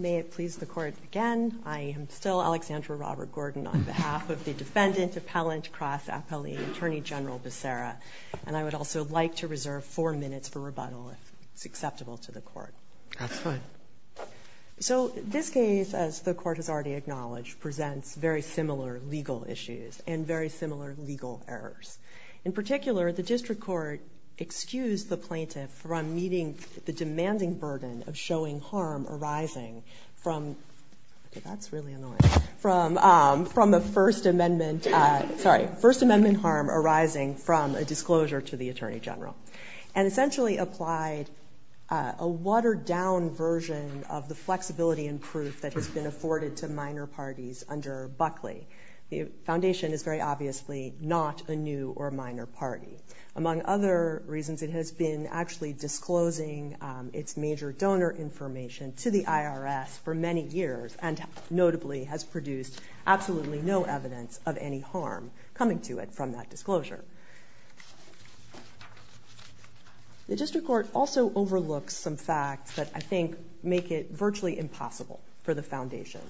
May it please the Court again, I am still Alexandra Robert Gordon on behalf of the Defendant Appellant Cross Appellee Attorney General Becerra, and I would also like to reserve four minutes for rebuttal if it's acceptable to the Court. That's fine. So this case, as the Court has already acknowledged, presents very similar legal issues and very similar legal errors. In particular, the District Court excused the plaintiff from meeting the demanding burden of showing harm arising from, that's really annoying, from the First Amendment, sorry, First Amendment harm arising from a disclosure to the Attorney General. And essentially applied a watered-down version of the flexibility and proof that has been afforded to minor parties under Buckley. The Foundation is very obviously not a new or minor party. Among other reasons, it has been actually disclosing its major donor information to the IRS for many years and notably has produced absolutely no evidence of any harm coming to it from that disclosure. The District Court also overlooks some facts that I think make it virtually impossible for the Foundation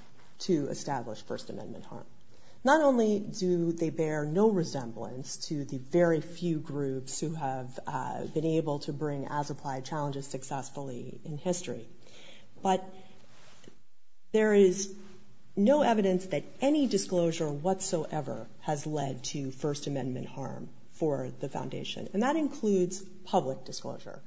to establish First Amendment harm. And that includes public disclosure.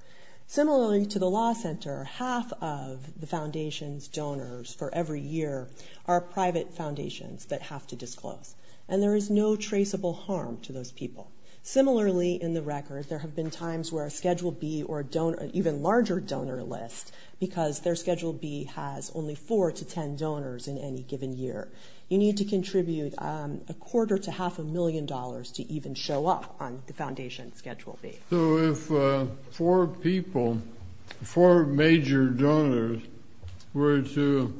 Similarly to the Law Center, half of the Foundation's donors for every year are private foundations that have to disclose. And there is no traceable harm to those people. Similarly, in the record, there have been times where a Schedule B or a donor, an even larger donor list, because their Schedule B has only four to ten donors in any given year. You need to contribute a quarter to half a million dollars to even show up on the Foundation Schedule B. So if four people, four major donors were to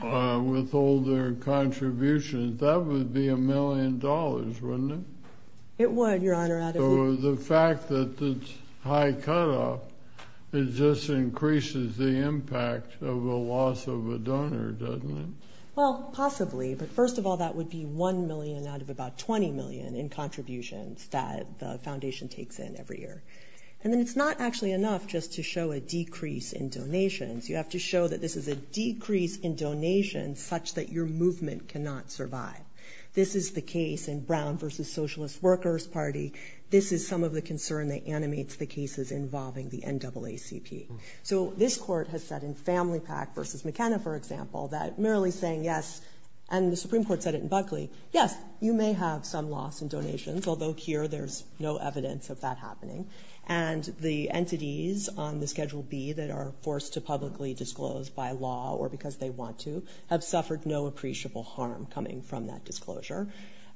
withhold their contributions, that would be a million dollars, wouldn't it? It would, Your Honor. So the fact that it's high cutoff, it just increases the impact of a loss of a donor, doesn't it? Well, possibly. But first of all, that would be one million out of about 20 million in contributions that the Foundation takes in every year. And then it's not actually enough just to show a decrease in donations. You have to show that this is a decrease in donations such that your movement cannot survive. This is the case in Brown v. Socialist Workers Party. This is some of the concern that animates the cases involving the NAACP. So this court has said in Family Pack v. McKenna, for example, that merely saying yes, and the Supreme Court said it in Buckley, yes, you may have some loss in donations, although here there's no evidence of that happening. And the entities on the Schedule B that are forced to publicly disclose by law or because they want to have suffered no appreciable harm coming from that disclosure.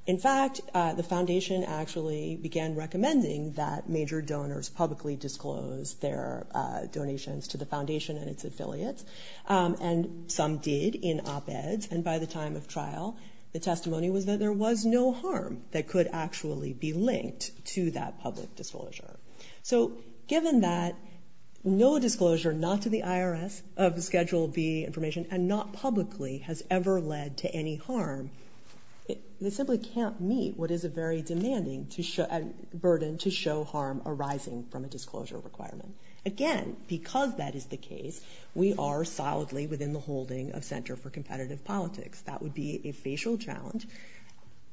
In fact, the Foundation actually began recommending that major donors publicly disclose their donations to the Foundation and its affiliates, and some did in op-eds. And by the time of trial, the testimony was that there was no harm that could actually be linked to that public disclosure. So given that no disclosure, not to the IRS, of Schedule B information, and not publicly, has ever led to any harm, this simply can't meet what is a very demanding burden to show harm arising from a disclosure requirement. Again, because that is the case, we are solidly within the holding of Center for Competitive Politics. That would be a facial challenge,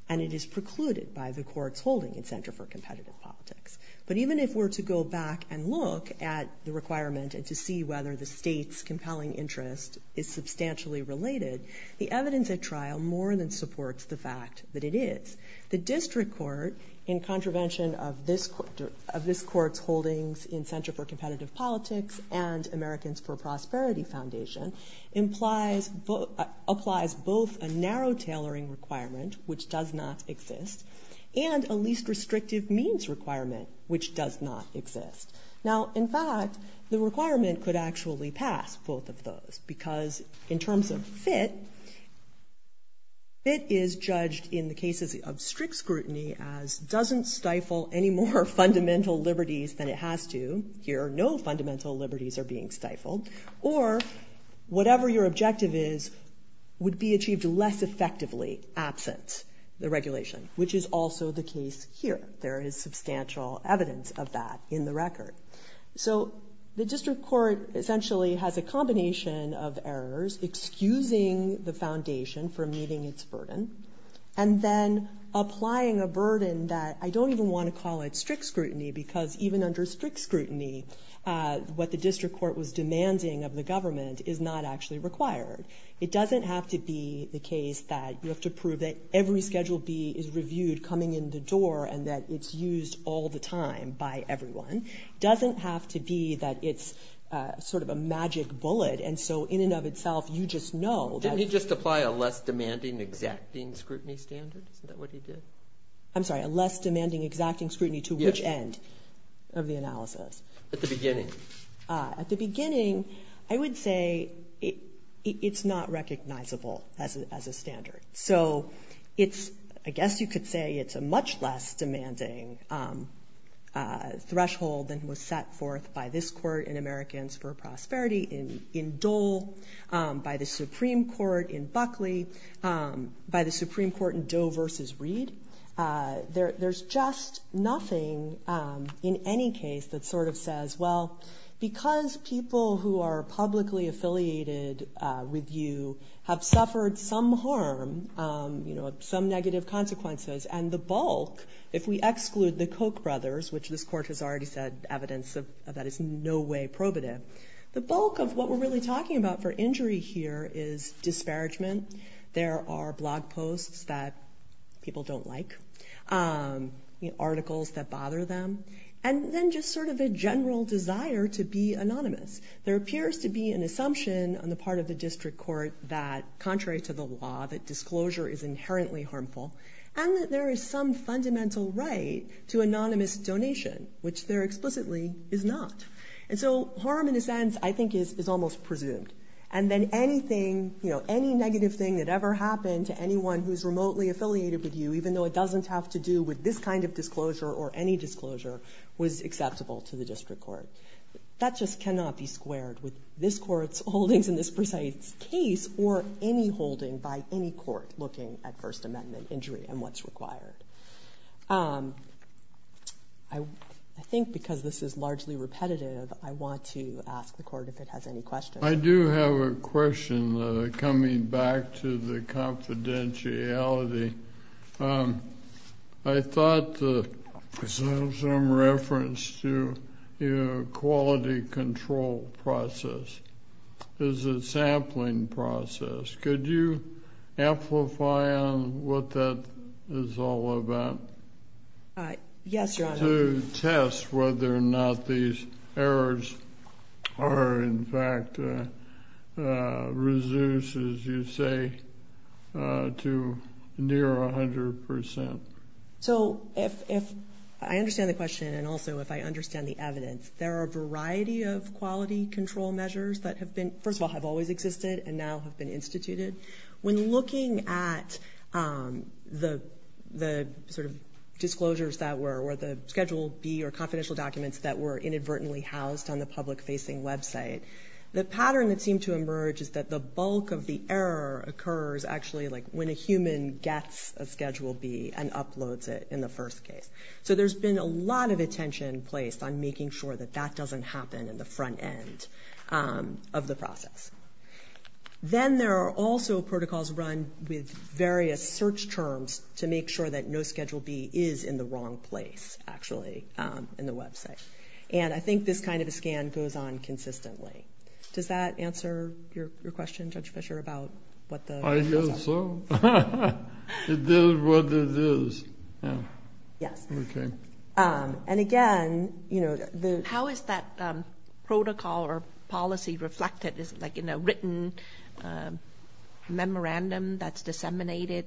and it is precluded by the court's holding in Center for Competitive Politics. But even if we're to go back and look at the requirement and to see whether the state's compelling interest is substantially related, the evidence at trial more than supports the fact that it is. The district court, in contravention of this court's holdings in Center for Competitive Politics and Americans for Prosperity Foundation, applies both a narrow tailoring requirement, which does not exist, and a least restrictive means requirement, which does not exist. Now, in fact, the requirement could actually pass both of those, because in terms of fit, fit is judged in the cases of strict scrutiny as doesn't stifle any more fundamental liberties than it has to. Here, no fundamental liberties are being stifled. Or whatever your objective is would be achieved less effectively absent the regulation, which is also the case here. There is substantial evidence of that in the record. So the district court essentially has a combination of errors, excusing the foundation from meeting its burden, and then applying a burden that I don't even want to call it strict scrutiny, because even under strict scrutiny, what the district court was demanding of the government is not actually required. It doesn't have to be the case that you have to prove that every Schedule B is reviewed coming in the door and that it's used all the time by everyone. It doesn't have to be that it's sort of a magic bullet, and so in and of itself, you just know. Didn't he just apply a less demanding exacting scrutiny standard? Isn't that what he did? I'm sorry, a less demanding exacting scrutiny to which end of the analysis? At the beginning. At the beginning, I would say it's not recognizable as a standard. So I guess you could say it's a much less demanding threshold than was set forth by this court in Americans for Prosperity, in Dole, by the Supreme Court in Buckley, by the Supreme Court in Doe v. Reed. There's just nothing in any case that sort of says, well, because people who are publicly affiliated with you have suffered some harm, some negative consequences, and the bulk, if we exclude the Koch brothers, which this court has already said evidence of that is in no way probative, the bulk of what we're really talking about for injury here is disparagement. There are blog posts that people don't like, articles that bother them, and then just sort of a general desire to be anonymous. There appears to be an assumption on the part of the district court that, contrary to the law, that disclosure is inherently harmful and that there is some fundamental right to anonymous donation, which there explicitly is not. And so harm, in a sense, I think is almost presumed. And then anything, you know, any negative thing that ever happened to anyone who's remotely affiliated with you, even though it doesn't have to do with this kind of disclosure or any disclosure, was acceptable to the district court. That just cannot be squared with this court's holdings in this precise case or any holding by any court looking at First Amendment injury and what's required. I think because this is largely repetitive, I want to ask the court if it has any questions. I do have a question coming back to the confidentiality. I thought there was some reference to a quality control process. Is it a sampling process? Could you amplify on what that is all about? Yes, Your Honor. To test whether or not these errors are, in fact, reduced, as you say, to near 100 percent. So if I understand the question and also if I understand the evidence, there are a variety of quality control measures that have been, first of all, have always existed and now have been instituted. When looking at the sort of disclosures that were, or the Schedule B or confidential documents that were inadvertently housed on the public-facing website, the pattern that seemed to emerge is that the bulk of the error occurs actually, like, when a human gets a Schedule B and uploads it in the first case. So there's been a lot of attention placed on making sure that that doesn't happen in the front end of the process. Then there are also protocols run with various search terms to make sure that no Schedule B is in the wrong place, actually, in the website. And I think this kind of a scan goes on consistently. Does that answer your question, Judge Fischer, about what the... I guess so. It is what it is. Yes. Okay. And again, you know, the... protocol or policy reflected is, like, in a written memorandum that's disseminated,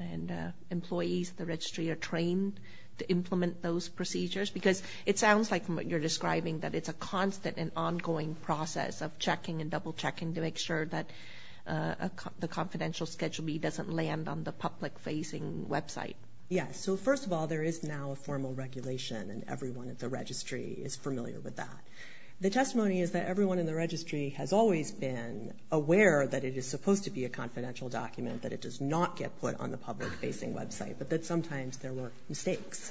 and employees of the Registry are trained to implement those procedures, because it sounds like you're describing that it's a constant and ongoing process of checking and double-checking to make sure that the confidential Schedule B doesn't land on the public-facing website. Yes. So, first of all, there is now a formal regulation, and everyone at the Registry is familiar with that. The testimony is that everyone in the Registry has always been aware that it is supposed to be a confidential document, that it does not get put on the public-facing website, but that sometimes there were mistakes.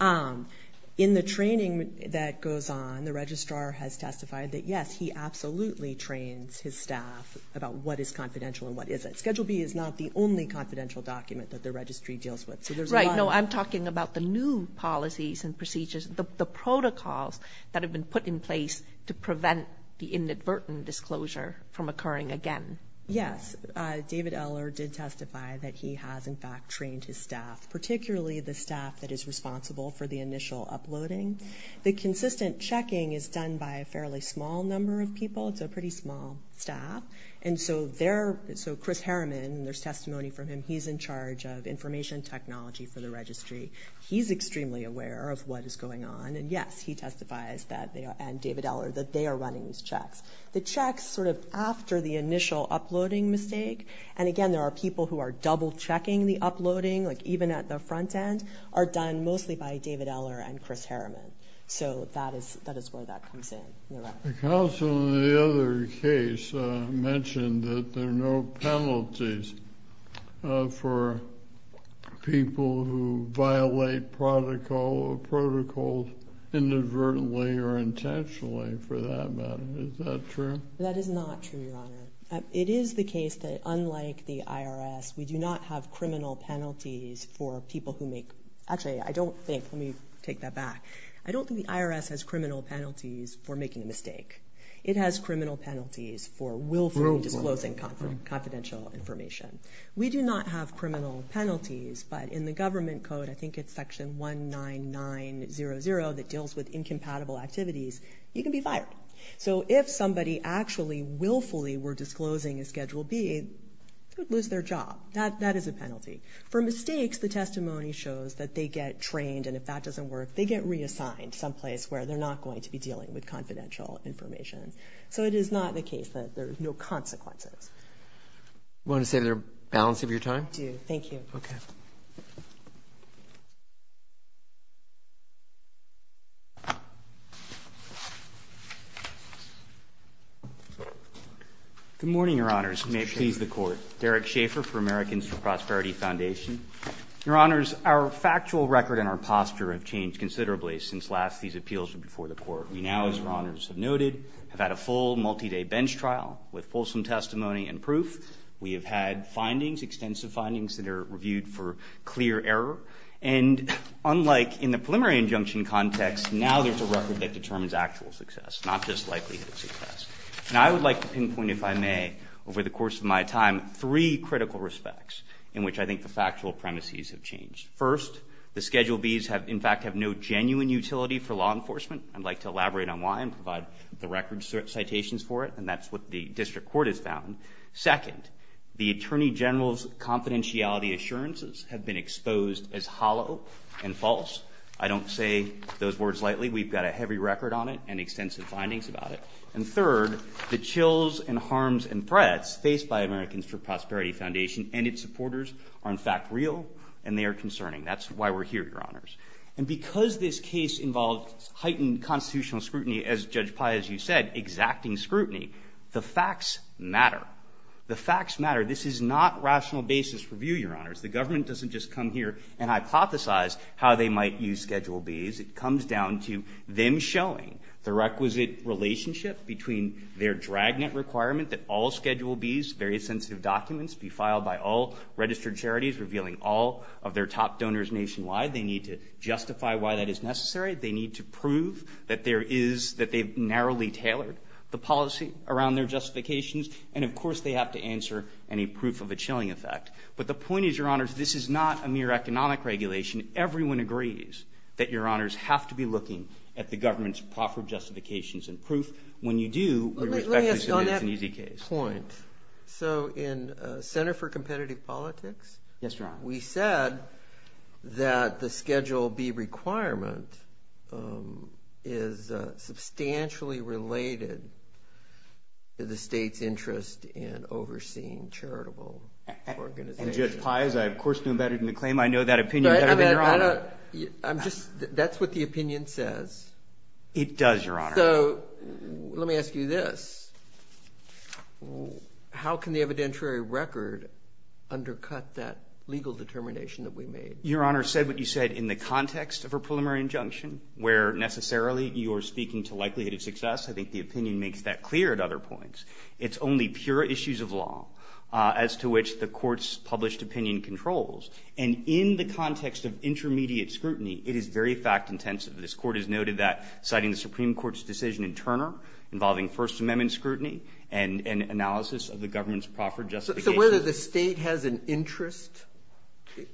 In the training that goes on, the Registrar has testified that, yes, he absolutely trains his staff about what is confidential and what isn't. But Schedule B is not the only confidential document that the Registry deals with. So there's a lot of... Right. No, I'm talking about the new policies and procedures, the protocols that have been put in place to prevent the inadvertent disclosure from occurring again. Yes. David Eller did testify that he has, in fact, trained his staff, particularly the staff that is responsible for the initial uploading. The consistent checking is done by a fairly small number of people. It's a pretty small staff. And so Chris Harriman, and there's testimony from him, he's in charge of information technology for the Registry. He's extremely aware of what is going on. And, yes, he testifies that they are, and David Eller, that they are running these checks. The checks sort of after the initial uploading mistake, and, again, there are people who are double-checking the uploading, like even at the front end, are done mostly by David Eller and Chris Harriman. So that is where that comes in. The counsel in the other case mentioned that there are no penalties for people who violate protocol or protocols inadvertently or intentionally, for that matter. Is that true? That is not true, Your Honor. It is the case that, unlike the IRS, we do not have criminal penalties for people who make – actually, I don't think – let me take that back. I don't think the IRS has criminal penalties for making a mistake. It has criminal penalties for willfully disclosing confidential information. We do not have criminal penalties, but in the government code, I think it's section 19900 that deals with incompatible activities, you can be fired. So if somebody actually willfully were disclosing a Schedule B, they would lose their job. That is a penalty. For mistakes, the testimony shows that they get trained, and if that doesn't work, they get reassigned someplace where they're not going to be dealing with confidential information. So it is not the case that there are no consequences. You want to say there's a balance of your time? I do. Thank you. Okay. Good morning, Your Honors. May it please the Court. Derek Schaffer for Americans for Prosperity Foundation. Your Honors, our factual record and our posture have changed considerably since last these appeals were before the Court. We now, as Your Honors have noted, have had a full multi-day bench trial with fulsome testimony and proof. We have had findings, extensive findings that are reviewed for clear error. And unlike in the preliminary injunction context, now there's a record that determines actual success, not just likelihood of success. And I would like to pinpoint, if I may, over the course of my time, three critical respects in which I think the factual premises have changed. First, the Schedule Bs in fact have no genuine utility for law enforcement. I'd like to elaborate on why and provide the record citations for it, and that's what the District Court has found. Second, the Attorney General's confidentiality assurances have been exposed as hollow and false. I don't say those words lightly. We've got a heavy record on it and extensive findings about it. And third, the chills and harms and threats faced by Americans for Prosperity Foundation and its supporters are in fact real and they are concerning. That's why we're here, Your Honors. And because this case involved heightened constitutional scrutiny, as Judge Pai, as you said, exacting scrutiny, the facts matter. The facts matter. This is not rational basis for view, Your Honors. The government doesn't just come here and hypothesize how they might use Schedule Bs. It comes down to them showing the requisite relationship between their dragnet requirement that all Schedule Bs, various sensitive documents, be filed by all registered charities revealing all of their top donors nationwide. They need to justify why that is necessary. They need to prove that there is, that they've narrowly tailored the policy around their justifications, and of course they have to answer any proof of a chilling effect. But the point is, Your Honors, this is not a mere economic regulation. Everyone agrees that Your Honors have to be looking at the government's proffered justifications and proof. When you do, we respectfully submit it's an easy case. Let me ask you on that point. So in Center for Competitive Politics, we said that the Schedule B requirement is substantially related to the state's interest in overseeing charitable organizations. And Judge Pai, as I of course know better than to claim, I know that opinion better than Your Honor. I'm just, that's what the opinion says. It does, Your Honor. So let me ask you this. How can the evidentiary record undercut that legal determination that we made? Your Honor said what you said in the context of a preliminary injunction, where necessarily you are speaking to likelihood of success. I think the opinion makes that clear at other points. It's only pure issues of law as to which the Court's published opinion controls. And in the context of intermediate scrutiny, it is very fact intensive. This Court has noted that citing the Supreme Court's decision in Turner involving First Amendment scrutiny and analysis of the government's proffered justifications So whether the State has an interest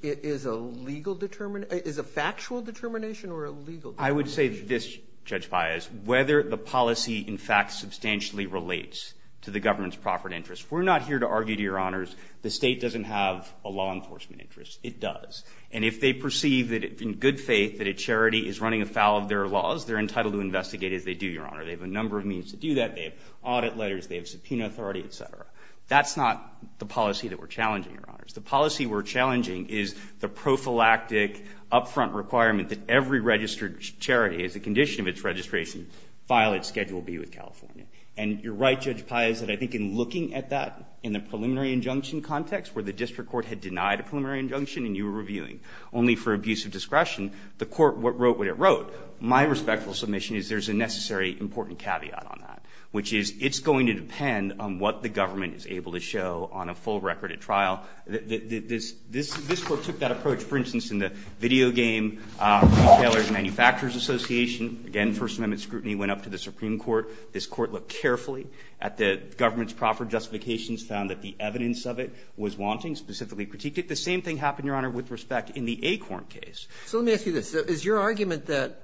is a legal determination, is a factual determination or a legal determination? I would say this, Judge Pai, is whether the policy in fact substantially relates to the government's proffered interest. We're not here to argue, Your Honors, the State doesn't have a law enforcement interest. It does. And if they perceive that in good faith that a charity is running afoul of their laws, they're entitled to investigate as they do, Your Honor. They have a number of means to do that. They have audit letters. They have subpoena authority, et cetera. That's not the policy that we're challenging, Your Honors. The policy we're challenging is the prophylactic upfront requirement that every registered charity, as a condition of its registration, file its Schedule B with California. And you're right, Judge Pai, is that I think in looking at that in the preliminary injunction context where the district court had denied a preliminary injunction and you were reviewing only for abuse of discretion, the court wrote what it wrote. My respectful submission is there's a necessary important caveat on that, which is it's going to depend on what the government is able to show on a full record at trial. This Court took that approach, for instance, in the video game retailers and manufacturers association. Again, First Amendment scrutiny went up to the Supreme Court. This Court looked carefully at the government's proper justifications, found that the evidence of it was wanting, specifically critiqued it. The same thing happened, Your Honor, with respect in the Acorn case. So let me ask you this. Is your argument that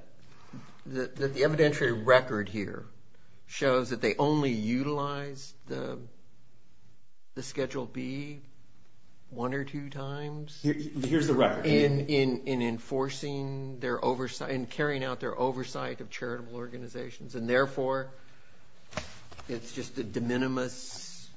the evidentiary record here shows that they only utilize the Schedule B one or two times? Here's the record. In enforcing their oversight and carrying out their oversight of charitable organizations and, therefore, it's just a de minimis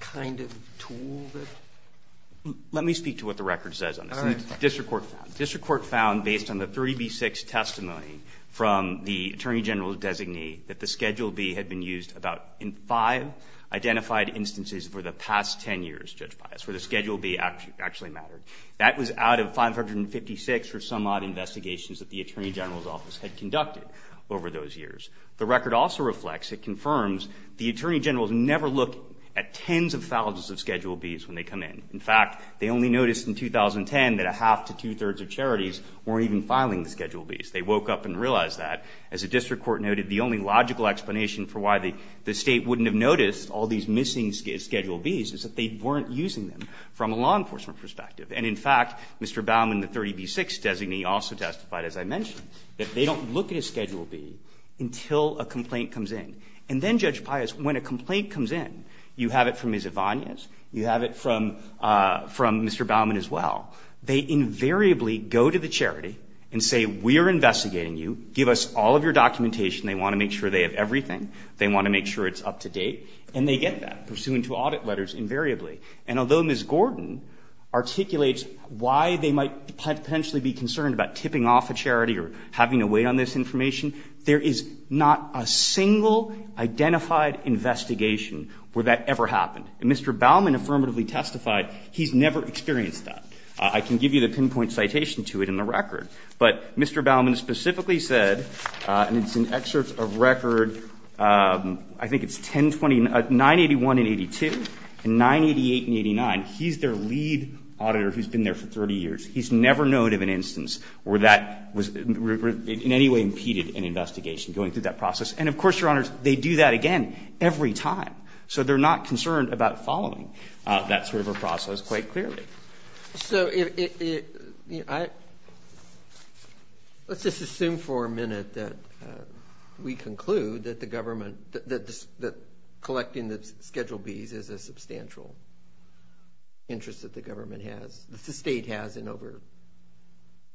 kind of tool that? Let me speak to what the record says on this. All right. The district court found based on the 3B6 testimony from the Attorney General's designee that the Schedule B had been used about in five identified instances for the past ten years, Judge Pius, where the Schedule B actually mattered. That was out of 556 or some odd investigations that the Attorney General's office had conducted over those years. The record also reflects, it confirms, the Attorney General's never looked at tens of thousands of Schedule Bs when they come in. In fact, they only noticed in 2010 that a half to two-thirds of charities weren't even filing the Schedule Bs. They woke up and realized that. As the district court noted, the only logical explanation for why the State wouldn't have noticed all these missing Schedule Bs is that they weren't using them from a law enforcement perspective. And, in fact, Mr. Baumann, the 3B6 designee, also testified, as I mentioned, that they don't look at a Schedule B until a complaint comes in. And then, Judge Pius, when a complaint comes in, you have it from Ms. Avanias, you have it from Mr. Baumann as well, they invariably go to the charity and say, we are investigating you, give us all of your documentation. They want to make sure they have everything. They want to make sure it's up to date. And they get that, pursuant to audit letters, invariably. And although Ms. Gordon articulates why they might potentially be concerned about tipping off a charity or having to wait on this information, there is not a single identified investigation where that ever happened. And Mr. Baumann affirmatively testified he's never experienced that. I can give you the pinpoint citation to it in the record. But Mr. Baumann specifically said, and it's in excerpts of record, I think it's 981 and 82, and 988 and 89, he's their lead auditor who's been there for 30 years. He's never known of an instance where that in any way impeded an investigation going through that process. And of course, Your Honors, they do that again every time. So they're not concerned about following that sort of a process quite clearly. So let's just assume for a minute that we conclude that the government, that collecting the Schedule Bs is a substantial interest that the government has, that the State has in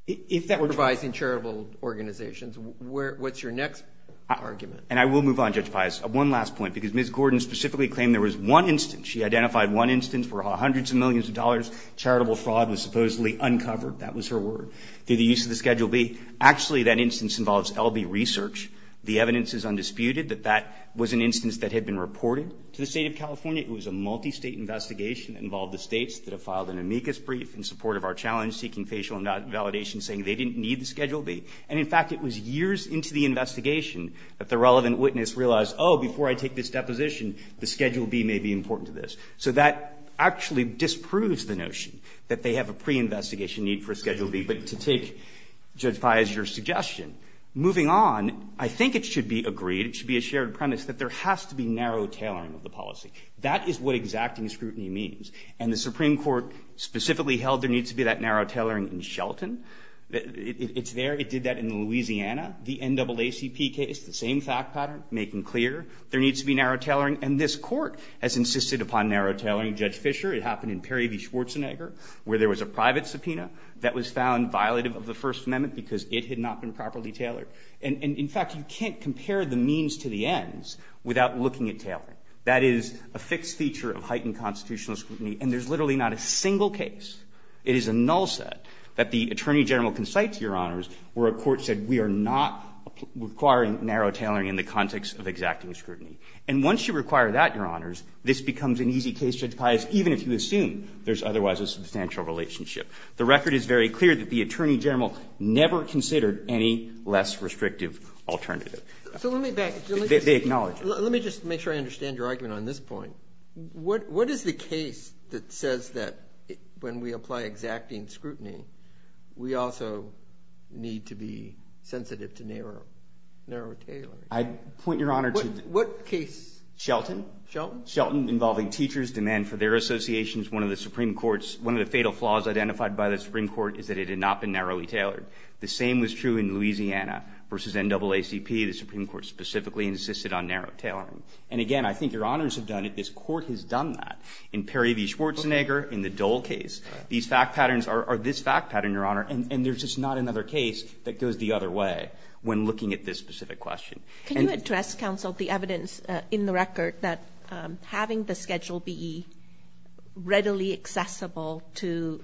overprovising charitable organizations. What's your next argument? And I will move on, Judge Pius. One last point, because Ms. Gordon specifically claimed there was one instance, she identified one instance where hundreds of millions of dollars, charitable fraud was supposedly uncovered, that was her word, through the use of the Schedule B. Actually, that instance involves LB research. The evidence is undisputed that that was an instance that had been reported to the State of California. It was a multistate investigation that involved the States that have filed an amicus brief in support of our challenge seeking facial invalidation saying they didn't need the Schedule B. And in fact, it was years into the investigation that the relevant witness realized, oh, before I take this deposition, the Schedule B may be important to this. So that actually disproves the notion that they have a preinvestigation need for a Schedule B. But to take, Judge Pius, your suggestion, moving on, I think it should be agreed, it should be a shared premise, that there has to be narrow tailoring of the policy. That is what exacting scrutiny means. And the Supreme Court specifically held there needs to be that narrow tailoring in Shelton. It's there. It did that in Louisiana. The NAACP case, the same fact pattern, making clear there needs to be narrow tailoring. And this Court has insisted upon narrow tailoring. Judge Fischer, it happened in Perry v. Schwarzenegger where there was a private subpoena that was found violative of the First Amendment because it had not been properly tailored. And in fact, you can't compare the means to the ends without looking at tailoring. That is a fixed feature of heightened constitutional scrutiny. And there is literally not a single case, it is a null set, that the Attorney General consites, Your Honors, where a court said we are not requiring narrow tailoring in the context of exacting scrutiny. And once you require that, Your Honors, this becomes an easy case, Judge Pius, even if you assume there is otherwise a substantial relationship. The record is very clear that the Attorney General never considered any less restrictive alternative. They acknowledge it. Let me just make sure I understand your argument on this point. What is the case that says that when we apply exacting scrutiny, we also need to be sensitive to narrow tailoring? I point, Your Honor, to – What case? Shelton. Shelton? Shelton involving teachers' demand for their associations. One of the fatal flaws identified by the Supreme Court is that it had not been narrowly tailored. The same was true in Louisiana v. NAACP. The Supreme Court specifically insisted on narrow tailoring. And again, I think Your Honors have done it. This Court has done that. In Perry v. Schwarzenegger, in the Dole case, these fact patterns are this fact pattern, Your Honor, and there is just not another case that goes the other way when looking at this specific question. Can you address, Counsel, the evidence in the record that having the Schedule BE readily accessible to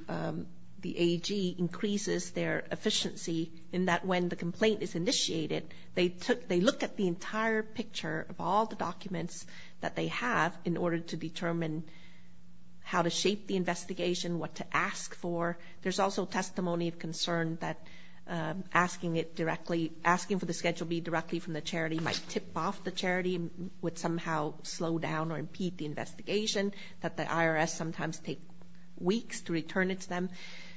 the AEG increases their efficiency in that when the complaint is initiated, they look at the entire picture of all the documents that they have in order to determine how to shape the investigation, what to ask for. There's also testimony of concern that asking for the Schedule BE directly from the charity might tip off the charity, would somehow slow down or impede the investigation, that the IRS sometimes takes weeks to return it to them.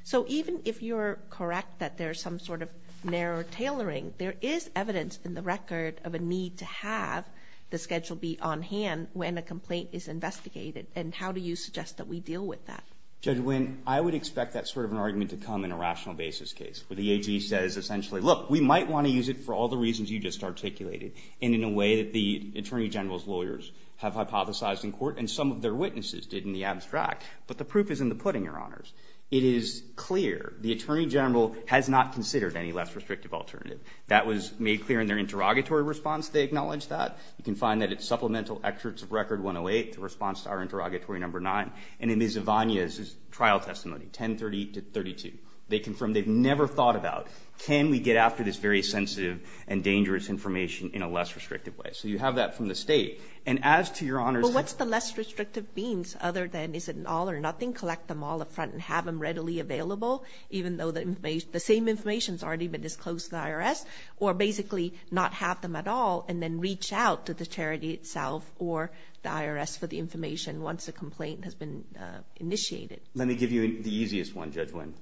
So even if you're correct that there's some sort of narrow tailoring, there is evidence in the record of a need to have the Schedule BE on hand when a complaint is investigated. And how do you suggest that we deal with that? Judge Winn, I would expect that sort of an argument to come in a rational basis case, where the AEG says essentially, look, we might want to use it for all the reasons you just articulated, and in a way that the Attorney General's lawyers have hypothesized in court and some of their witnesses did in the abstract. But the proof is in the pudding, Your Honors. It is clear the Attorney General has not considered any less restrictive alternative. That was made clear in their interrogatory response. They acknowledged that. You can find that at Supplemental Excerpts of Record 108, the response to our interrogatory number nine, and in Ms. Ivana's trial testimony, 1030 to 32. They confirmed they've never thought about, can we get after this very sensitive and dangerous information in a less restrictive way? So you have that from the State. And as to Your Honors – But what's the less restrictive means, other than is it an all or nothing? Collect them all up front and have them readily available, even though the same information's already been disclosed to the IRS? Or basically not have them at all and then reach out to the charity itself or the IRS for the information once a complaint has been initiated? Let me give you the easiest one, Judge Nguyen,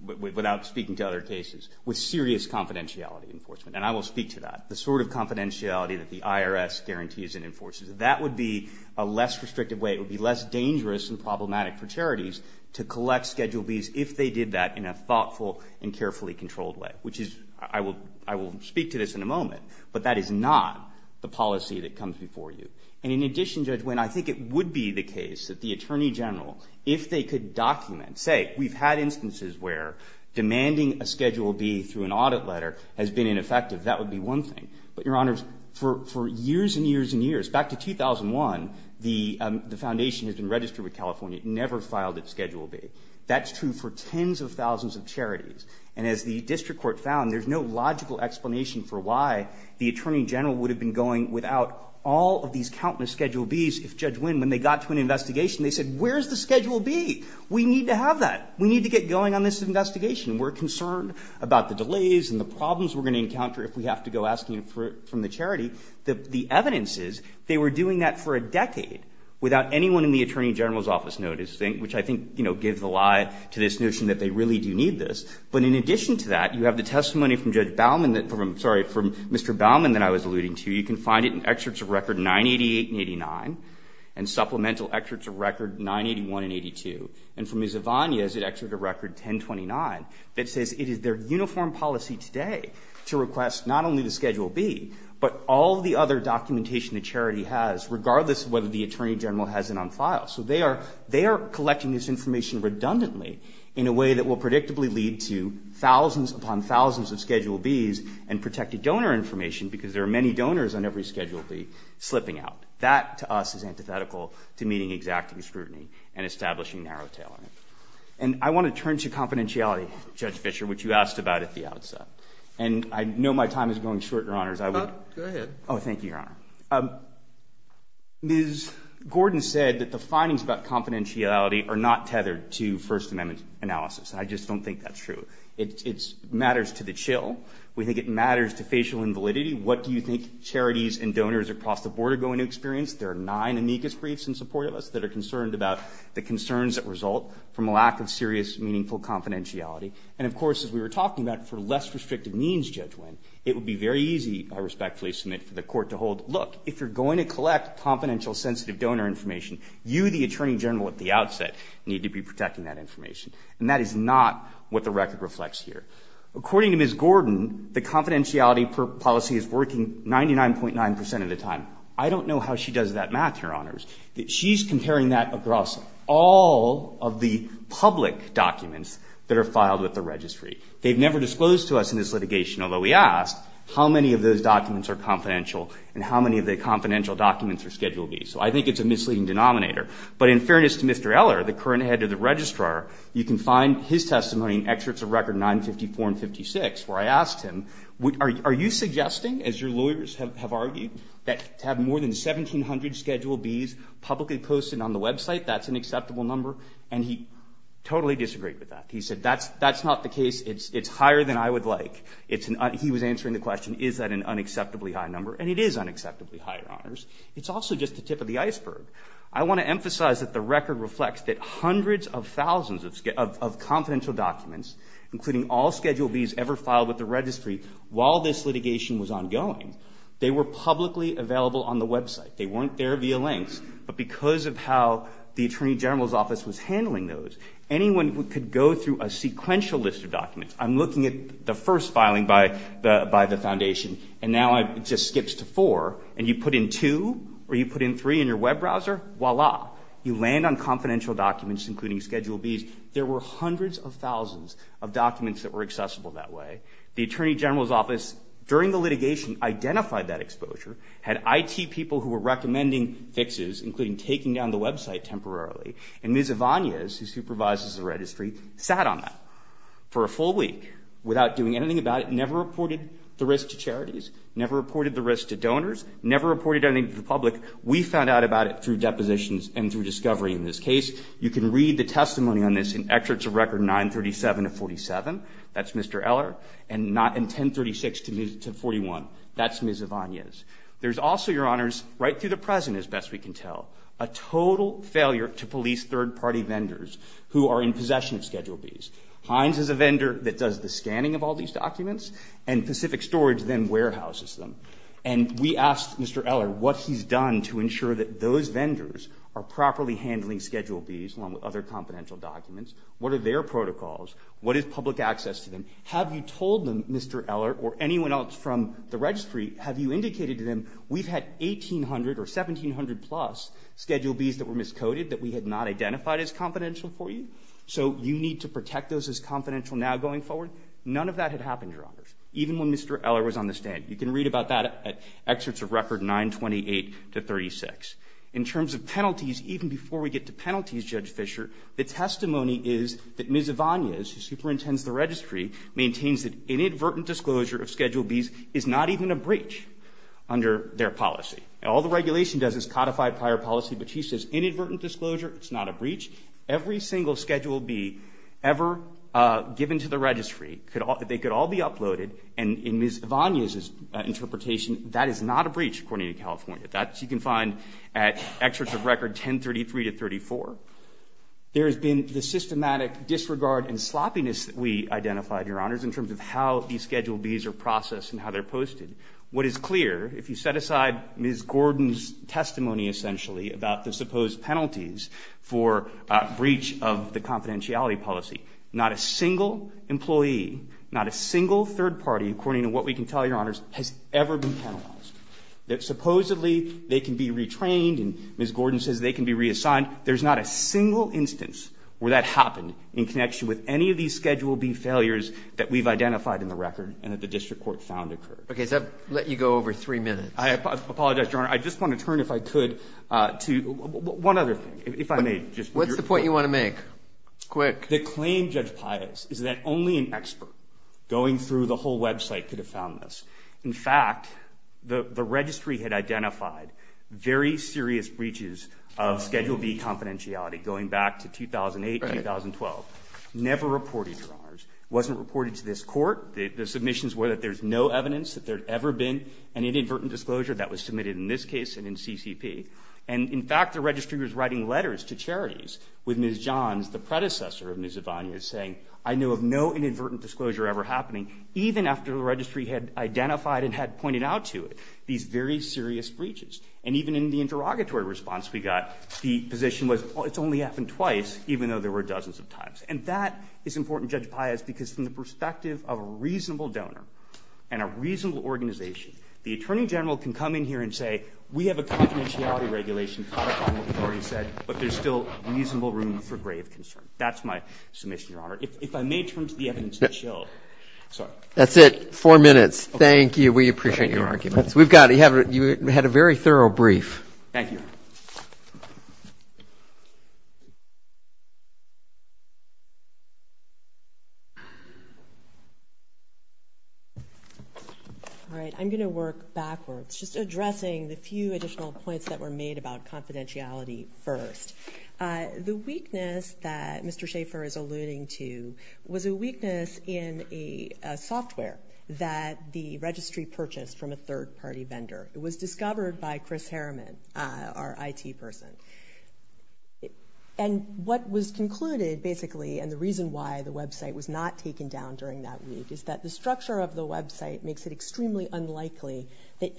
without speaking to other cases. With serious confidentiality enforcement. And I will speak to that. The sort of confidentiality that the IRS guarantees and enforces. That would be a less restrictive way. It would be less dangerous and problematic for charities to collect Schedule Bs if they did that in a thoughtful and carefully controlled way. Which is – I will speak to this in a moment. But that is not the policy that comes before you. And in addition, Judge Nguyen, I think it would be the case that the Attorney General, if they could document – say, we've had instances where demanding a Schedule B through an audit letter has been ineffective. That would be one thing. But, Your Honors, for years and years and years, back to 2001, the foundation has been registered with California. It never filed its Schedule B. That's true for tens of thousands of charities. And as the district court found, there's no logical explanation for why the Attorney General would have been going without all of these countless Schedule Bs if Judge Nguyen, when they got to an investigation, they said, where's the Schedule B? We need to have that. We need to get going on this investigation. We're concerned about the delays and the problems we're going to encounter if we have to go asking for it from the charity. The evidence is they were doing that for a decade without anyone in the Attorney General's office noticing, which I think, you know, gives the lie to this notion that they really do need this. But in addition to that, you have the testimony from Judge Baumann that – sorry, from Mr. Baumann that I was alluding to. You can find it in excerpts of record 988 and 89 and supplemental excerpts of record 981 and 82. And from Ms. Zavagna is an excerpt of record 1029 that says it is their uniform policy today to request not only the Schedule B, but all the other documentation the charity has, regardless of whether the Attorney General has it on file. So they are collecting this information redundantly in a way that will predictably lead to thousands upon thousands of Schedule Bs and protected donor information because there are many donors on every Schedule B slipping out. That, to us, is antithetical to meeting exacting scrutiny and establishing narrow tailoring. And I want to turn to confidentiality, Judge Fischer, which you asked about at the outset. And I know my time is going short, Your Honors. I would – Go ahead. Oh, thank you, Your Honor. Ms. Gordon said that the findings about confidentiality are not tethered to First Amendment analysis. I just don't think that's true. It matters to the chill. We think it matters to facial invalidity. What do you think charities and donors across the board are going to experience? There are nine amicus briefs in support of us that are concerned about the concerns that result from a lack of serious, meaningful confidentiality. And, of course, as we were talking about, for less restrictive means, Judge Winn, it would be very easy, I respectfully submit, for the Court to hold, look, if you're going to collect confidential sensitive donor information, you, the Attorney General at the outset, need to be protecting that information. And that is not what the record reflects here. According to Ms. Gordon, the confidentiality policy is working 99.9 percent of the time. I don't know how she does that math, Your Honors. She's comparing that across all of the public documents that are filed with the registry. They've never disclosed to us in this litigation, although we asked, how many of those documents are confidential and how many of the confidential documents are Schedule B. So I think it's a misleading denominator. But in fairness to Mr. Eller, the current head of the Registrar, you can find his testimony in excerpts of Record 954 and 956 where I asked him, are you suggesting, as your lawyers have argued, that to have more than 1,700 Schedule Bs publicly posted on the website, that's an acceptable number? And he totally disagreed with that. He said, that's not the case. It's higher than I would like. He was answering the question, is that an unacceptably high number? And it is unacceptably high, Your Honors. It's also just the tip of the iceberg. I want to emphasize that the record reflects that hundreds of thousands of confidential documents, including all Schedule Bs ever filed with the registry while this litigation was ongoing, they were publicly available on the website. They weren't there via links. But because of how the Attorney General's Office was handling those, anyone could go through a sequential list of documents. I'm looking at the first filing by the Foundation, and now it just skips to four. And you put in two or you put in three in your web browser, voila, you land on confidential documents, including Schedule Bs. There were hundreds of thousands of documents that were accessible that way. The Attorney General's Office, during the litigation, identified that exposure, had IT people who were recommending fixes, including taking down the website temporarily. And Ms. Avanias, who supervises the registry, sat on that for a full week without doing anything about it, never reported the risk to charities, never reported the risk to donors, never reported anything to the public. We found out about it through depositions and through discovery in this case. You can read the testimony on this in Excerpts of Record 937 of 47. That's Mr. Eller, and 1036 to 41. That's Ms. Avanias. There's also, Your Honors, right through the present as best we can tell, a total failure to police third-party vendors who are in possession of Schedule Bs. Heinz is a vendor that does the scanning of all these documents, and Pacific Storage then warehouses them. And we asked Mr. Eller what he's done to ensure that those vendors are properly handling Schedule Bs, along with other confidential documents. What are their protocols? What is public access to them? Have you told them, Mr. Eller or anyone else from the registry, have you indicated to them, we've had 1,800 or 1,700-plus Schedule Bs that were miscoded that we had not identified as confidential for you? So you need to protect those as confidential now going forward? None of that had happened, Your Honors, even when Mr. Eller was on the stand. You can read about that at Excerpts of Record 928 to 36. In terms of penalties, even before we get to penalties, Judge Fischer, the testimony is that Ms. Ivanez, who superintends the registry, maintains that inadvertent disclosure of Schedule Bs is not even a breach under their policy. All the regulation does is codify prior policy, but she says inadvertent disclosure is not a breach. Every single Schedule B ever given to the registry, they could all be uploaded, and in Ms. Ivanez's interpretation, that is not a breach, according to California. That you can find at Excerpts of Record 1033 to 34. There has been the systematic disregard and sloppiness that we identified, Your Honors, in terms of how these Schedule Bs are processed and how they're posted. What is clear, if you set aside Ms. Gordon's testimony, essentially, about the supposed penalties for breach of the confidentiality policy, not a single employee, not a single third party, according to what we can tell Your Honors, has ever been penalized. Supposedly, they can be retrained, and Ms. Gordon says they can be reassigned. There's not a single instance where that happened in connection with any of these Schedule B failures that we've identified in the record and that the district court found occurred. Okay, so I've let you go over three minutes. I apologize, Your Honor. I just want to turn, if I could, to one other thing, if I may. What's the point you want to make? Quick. The claim, Judge Pius, is that only an expert going through the whole website could have found this. In fact, the registry had identified very serious breaches of Schedule B confidentiality going back to 2008, 2012. Never reported, Your Honors. It wasn't reported to this court. The submissions were that there's no evidence that there had ever been an inadvertent disclosure that was submitted in this case and in CCP. And, in fact, the registry was writing letters to charities with Ms. Johns, the predecessor of Ms. Evania, saying, I know of no inadvertent disclosure ever happening, even after the registry had identified and had pointed out to it these very serious breaches. And even in the interrogatory response we got, the position was, well, it's only happened twice, even though there were dozens of times. And that is important, Judge Pius, because from the perspective of a reasonable donor and a reasonable organization, the Attorney General can come in here and say, we have a confidentiality regulation caught up on what we've already said, but there's still reasonable room for grave concern. That's my submission, Your Honor. If I may turn to the evidence in itself. That's it. Four minutes. Thank you. We appreciate your arguments. We've got it. You had a very thorough brief. Thank you. All right. I'm going to work backwards, just addressing the few additional points that were made about confidentiality first. The weakness that Mr. Schaffer is alluding to was a weakness in a software that the registry purchased from a third-party vendor. It was discovered by Chris Harriman, our IT person. And what was concluded, basically, and the reason why the website was not taken down during that week, is that the structure of the website makes it extremely unlikely that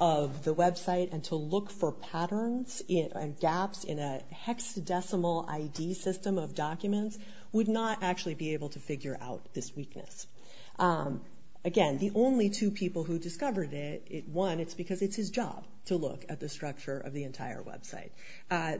of the website and to look for patterns and gaps in a hexadecimal ID system of documents would not actually be able to figure out this weakness. Again, the only two people who discovered it, one, it's because it's his job to look at the structure of the entire website.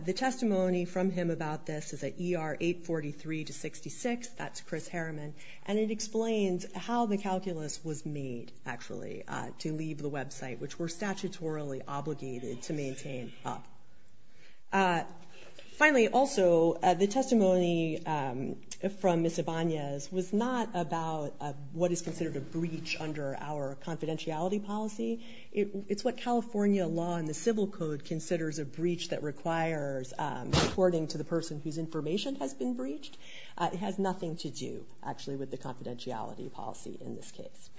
The testimony from him about this is at ER 843 to 66. That's Chris Harriman. And it explains how the calculus was made, actually, to leave the website, which we're statutorily obligated to maintain up. Finally, also, the testimony from Ms. Ibanez was not about what is considered a breach under our confidentiality policy. It's what California law and the civil code considers a breach that requires reporting to the person whose information has been breached. It has nothing to do, actually, with the confidentiality policy in this case.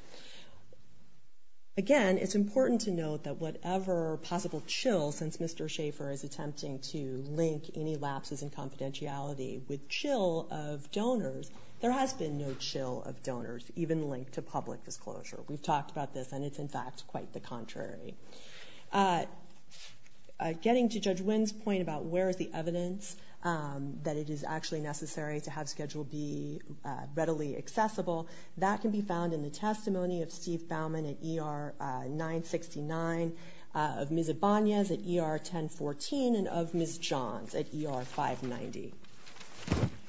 Again, it's important to note that whatever possible chill, since Mr. Schaffer is attempting to link any lapses in confidentiality with chill of donors, there has been no chill of donors, even linked to public disclosure. We've talked about this, and it's, in fact, quite the contrary. Getting to Judge Wynn's point about where is the evidence that it is actually necessary to have Schedule B readily accessible, that can be found in the testimony of Steve Bauman at ER 969, of Ms. Ibanez at ER 1014, and of Ms. Johns at ER 590.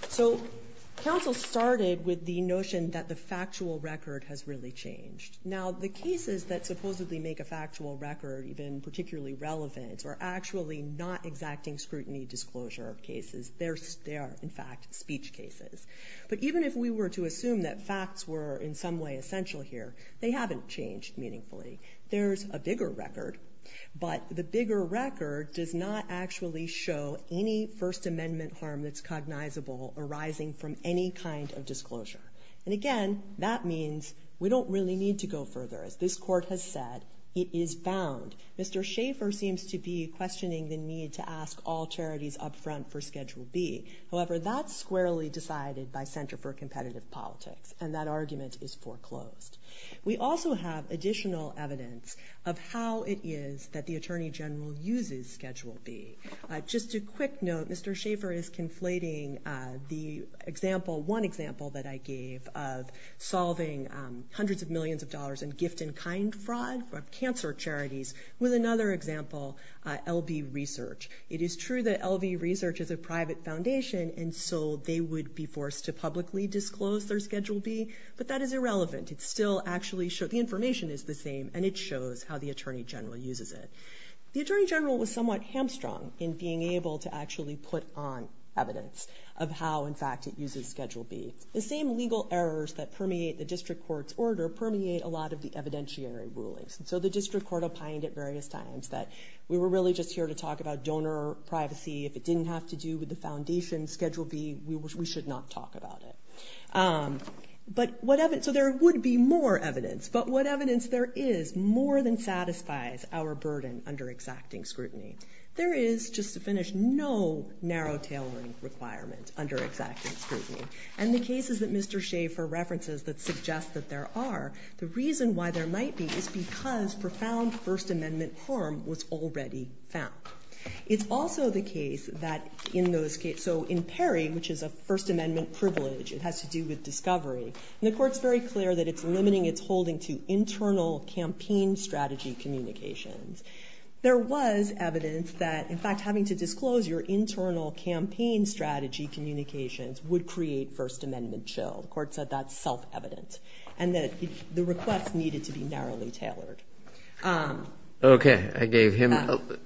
So, counsel started with the notion that the factual record has really changed. Now, the cases that supposedly make a factual record even particularly relevant are actually not exacting scrutiny disclosure of cases. They are, in fact, speech cases. But even if we were to assume that facts were in some way essential here, they haven't changed meaningfully. There's a bigger record, but the bigger record does not actually show any First Amendment harm that's cognizable arising from any kind of disclosure. And again, that means we don't really need to go further. As this court has said, it is found. Mr. Schaefer seems to be questioning the need to ask all charities up front for Schedule B. However, that's squarely decided by Center for Competitive Politics, and that argument is foreclosed. We also have additional evidence of how it is that the Attorney General uses Schedule B. Just a quick note, Mr. Schaefer is conflating the example, one example that I gave of solving hundreds of millions of dollars in gift and kind fraud of cancer charities with another example, LB Research. It is true that LB Research is a private foundation, and so they would be forced to publicly disclose their Schedule B, but that is irrelevant. It still actually shows, the information is the same, and it shows how the Attorney General uses it. The Attorney General was somewhat hamstrung in being able to actually put on evidence of how, in fact, it uses Schedule B. The same legal errors that permeate the district court's order permeate a lot of the evidentiary rulings. So the district court opined at various times that we were really just here to talk about donor privacy. If it didn't have to do with the foundation, Schedule B, we should not talk about it. So there would be more evidence, but what evidence there is more than satisfies our burden under exacting scrutiny. There is, just to finish, no narrow tailoring requirement under exacting scrutiny. And the cases that Mr. Shaffer references that suggest that there are, the reason why there might be is because profound First Amendment harm was already found. It's also the case that in those cases, so in Perry, which is a First Amendment privilege, it has to do with discovery, and the court's very clear that it's limiting its holding to internal campaign strategy communications. There was evidence that, in fact, having to disclose your internal campaign strategy communications would create First Amendment chill. The court said that's self-evident, and that the request needed to be narrowly tailored. Okay. I gave him the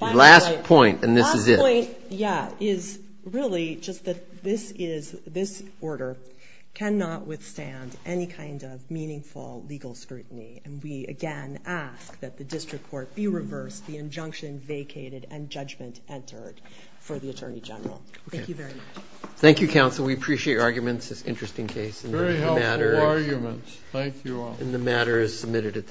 last point, and this is it. My point, yeah, is really just that this order cannot withstand any kind of meaningful legal scrutiny, and we again ask that the district court be reversed, the injunction vacated, and judgment entered for the Attorney General. Thank you very much. Thank you, counsel. We appreciate your arguments. It's an interesting case. Thank you all. And the matter is submitted at this time.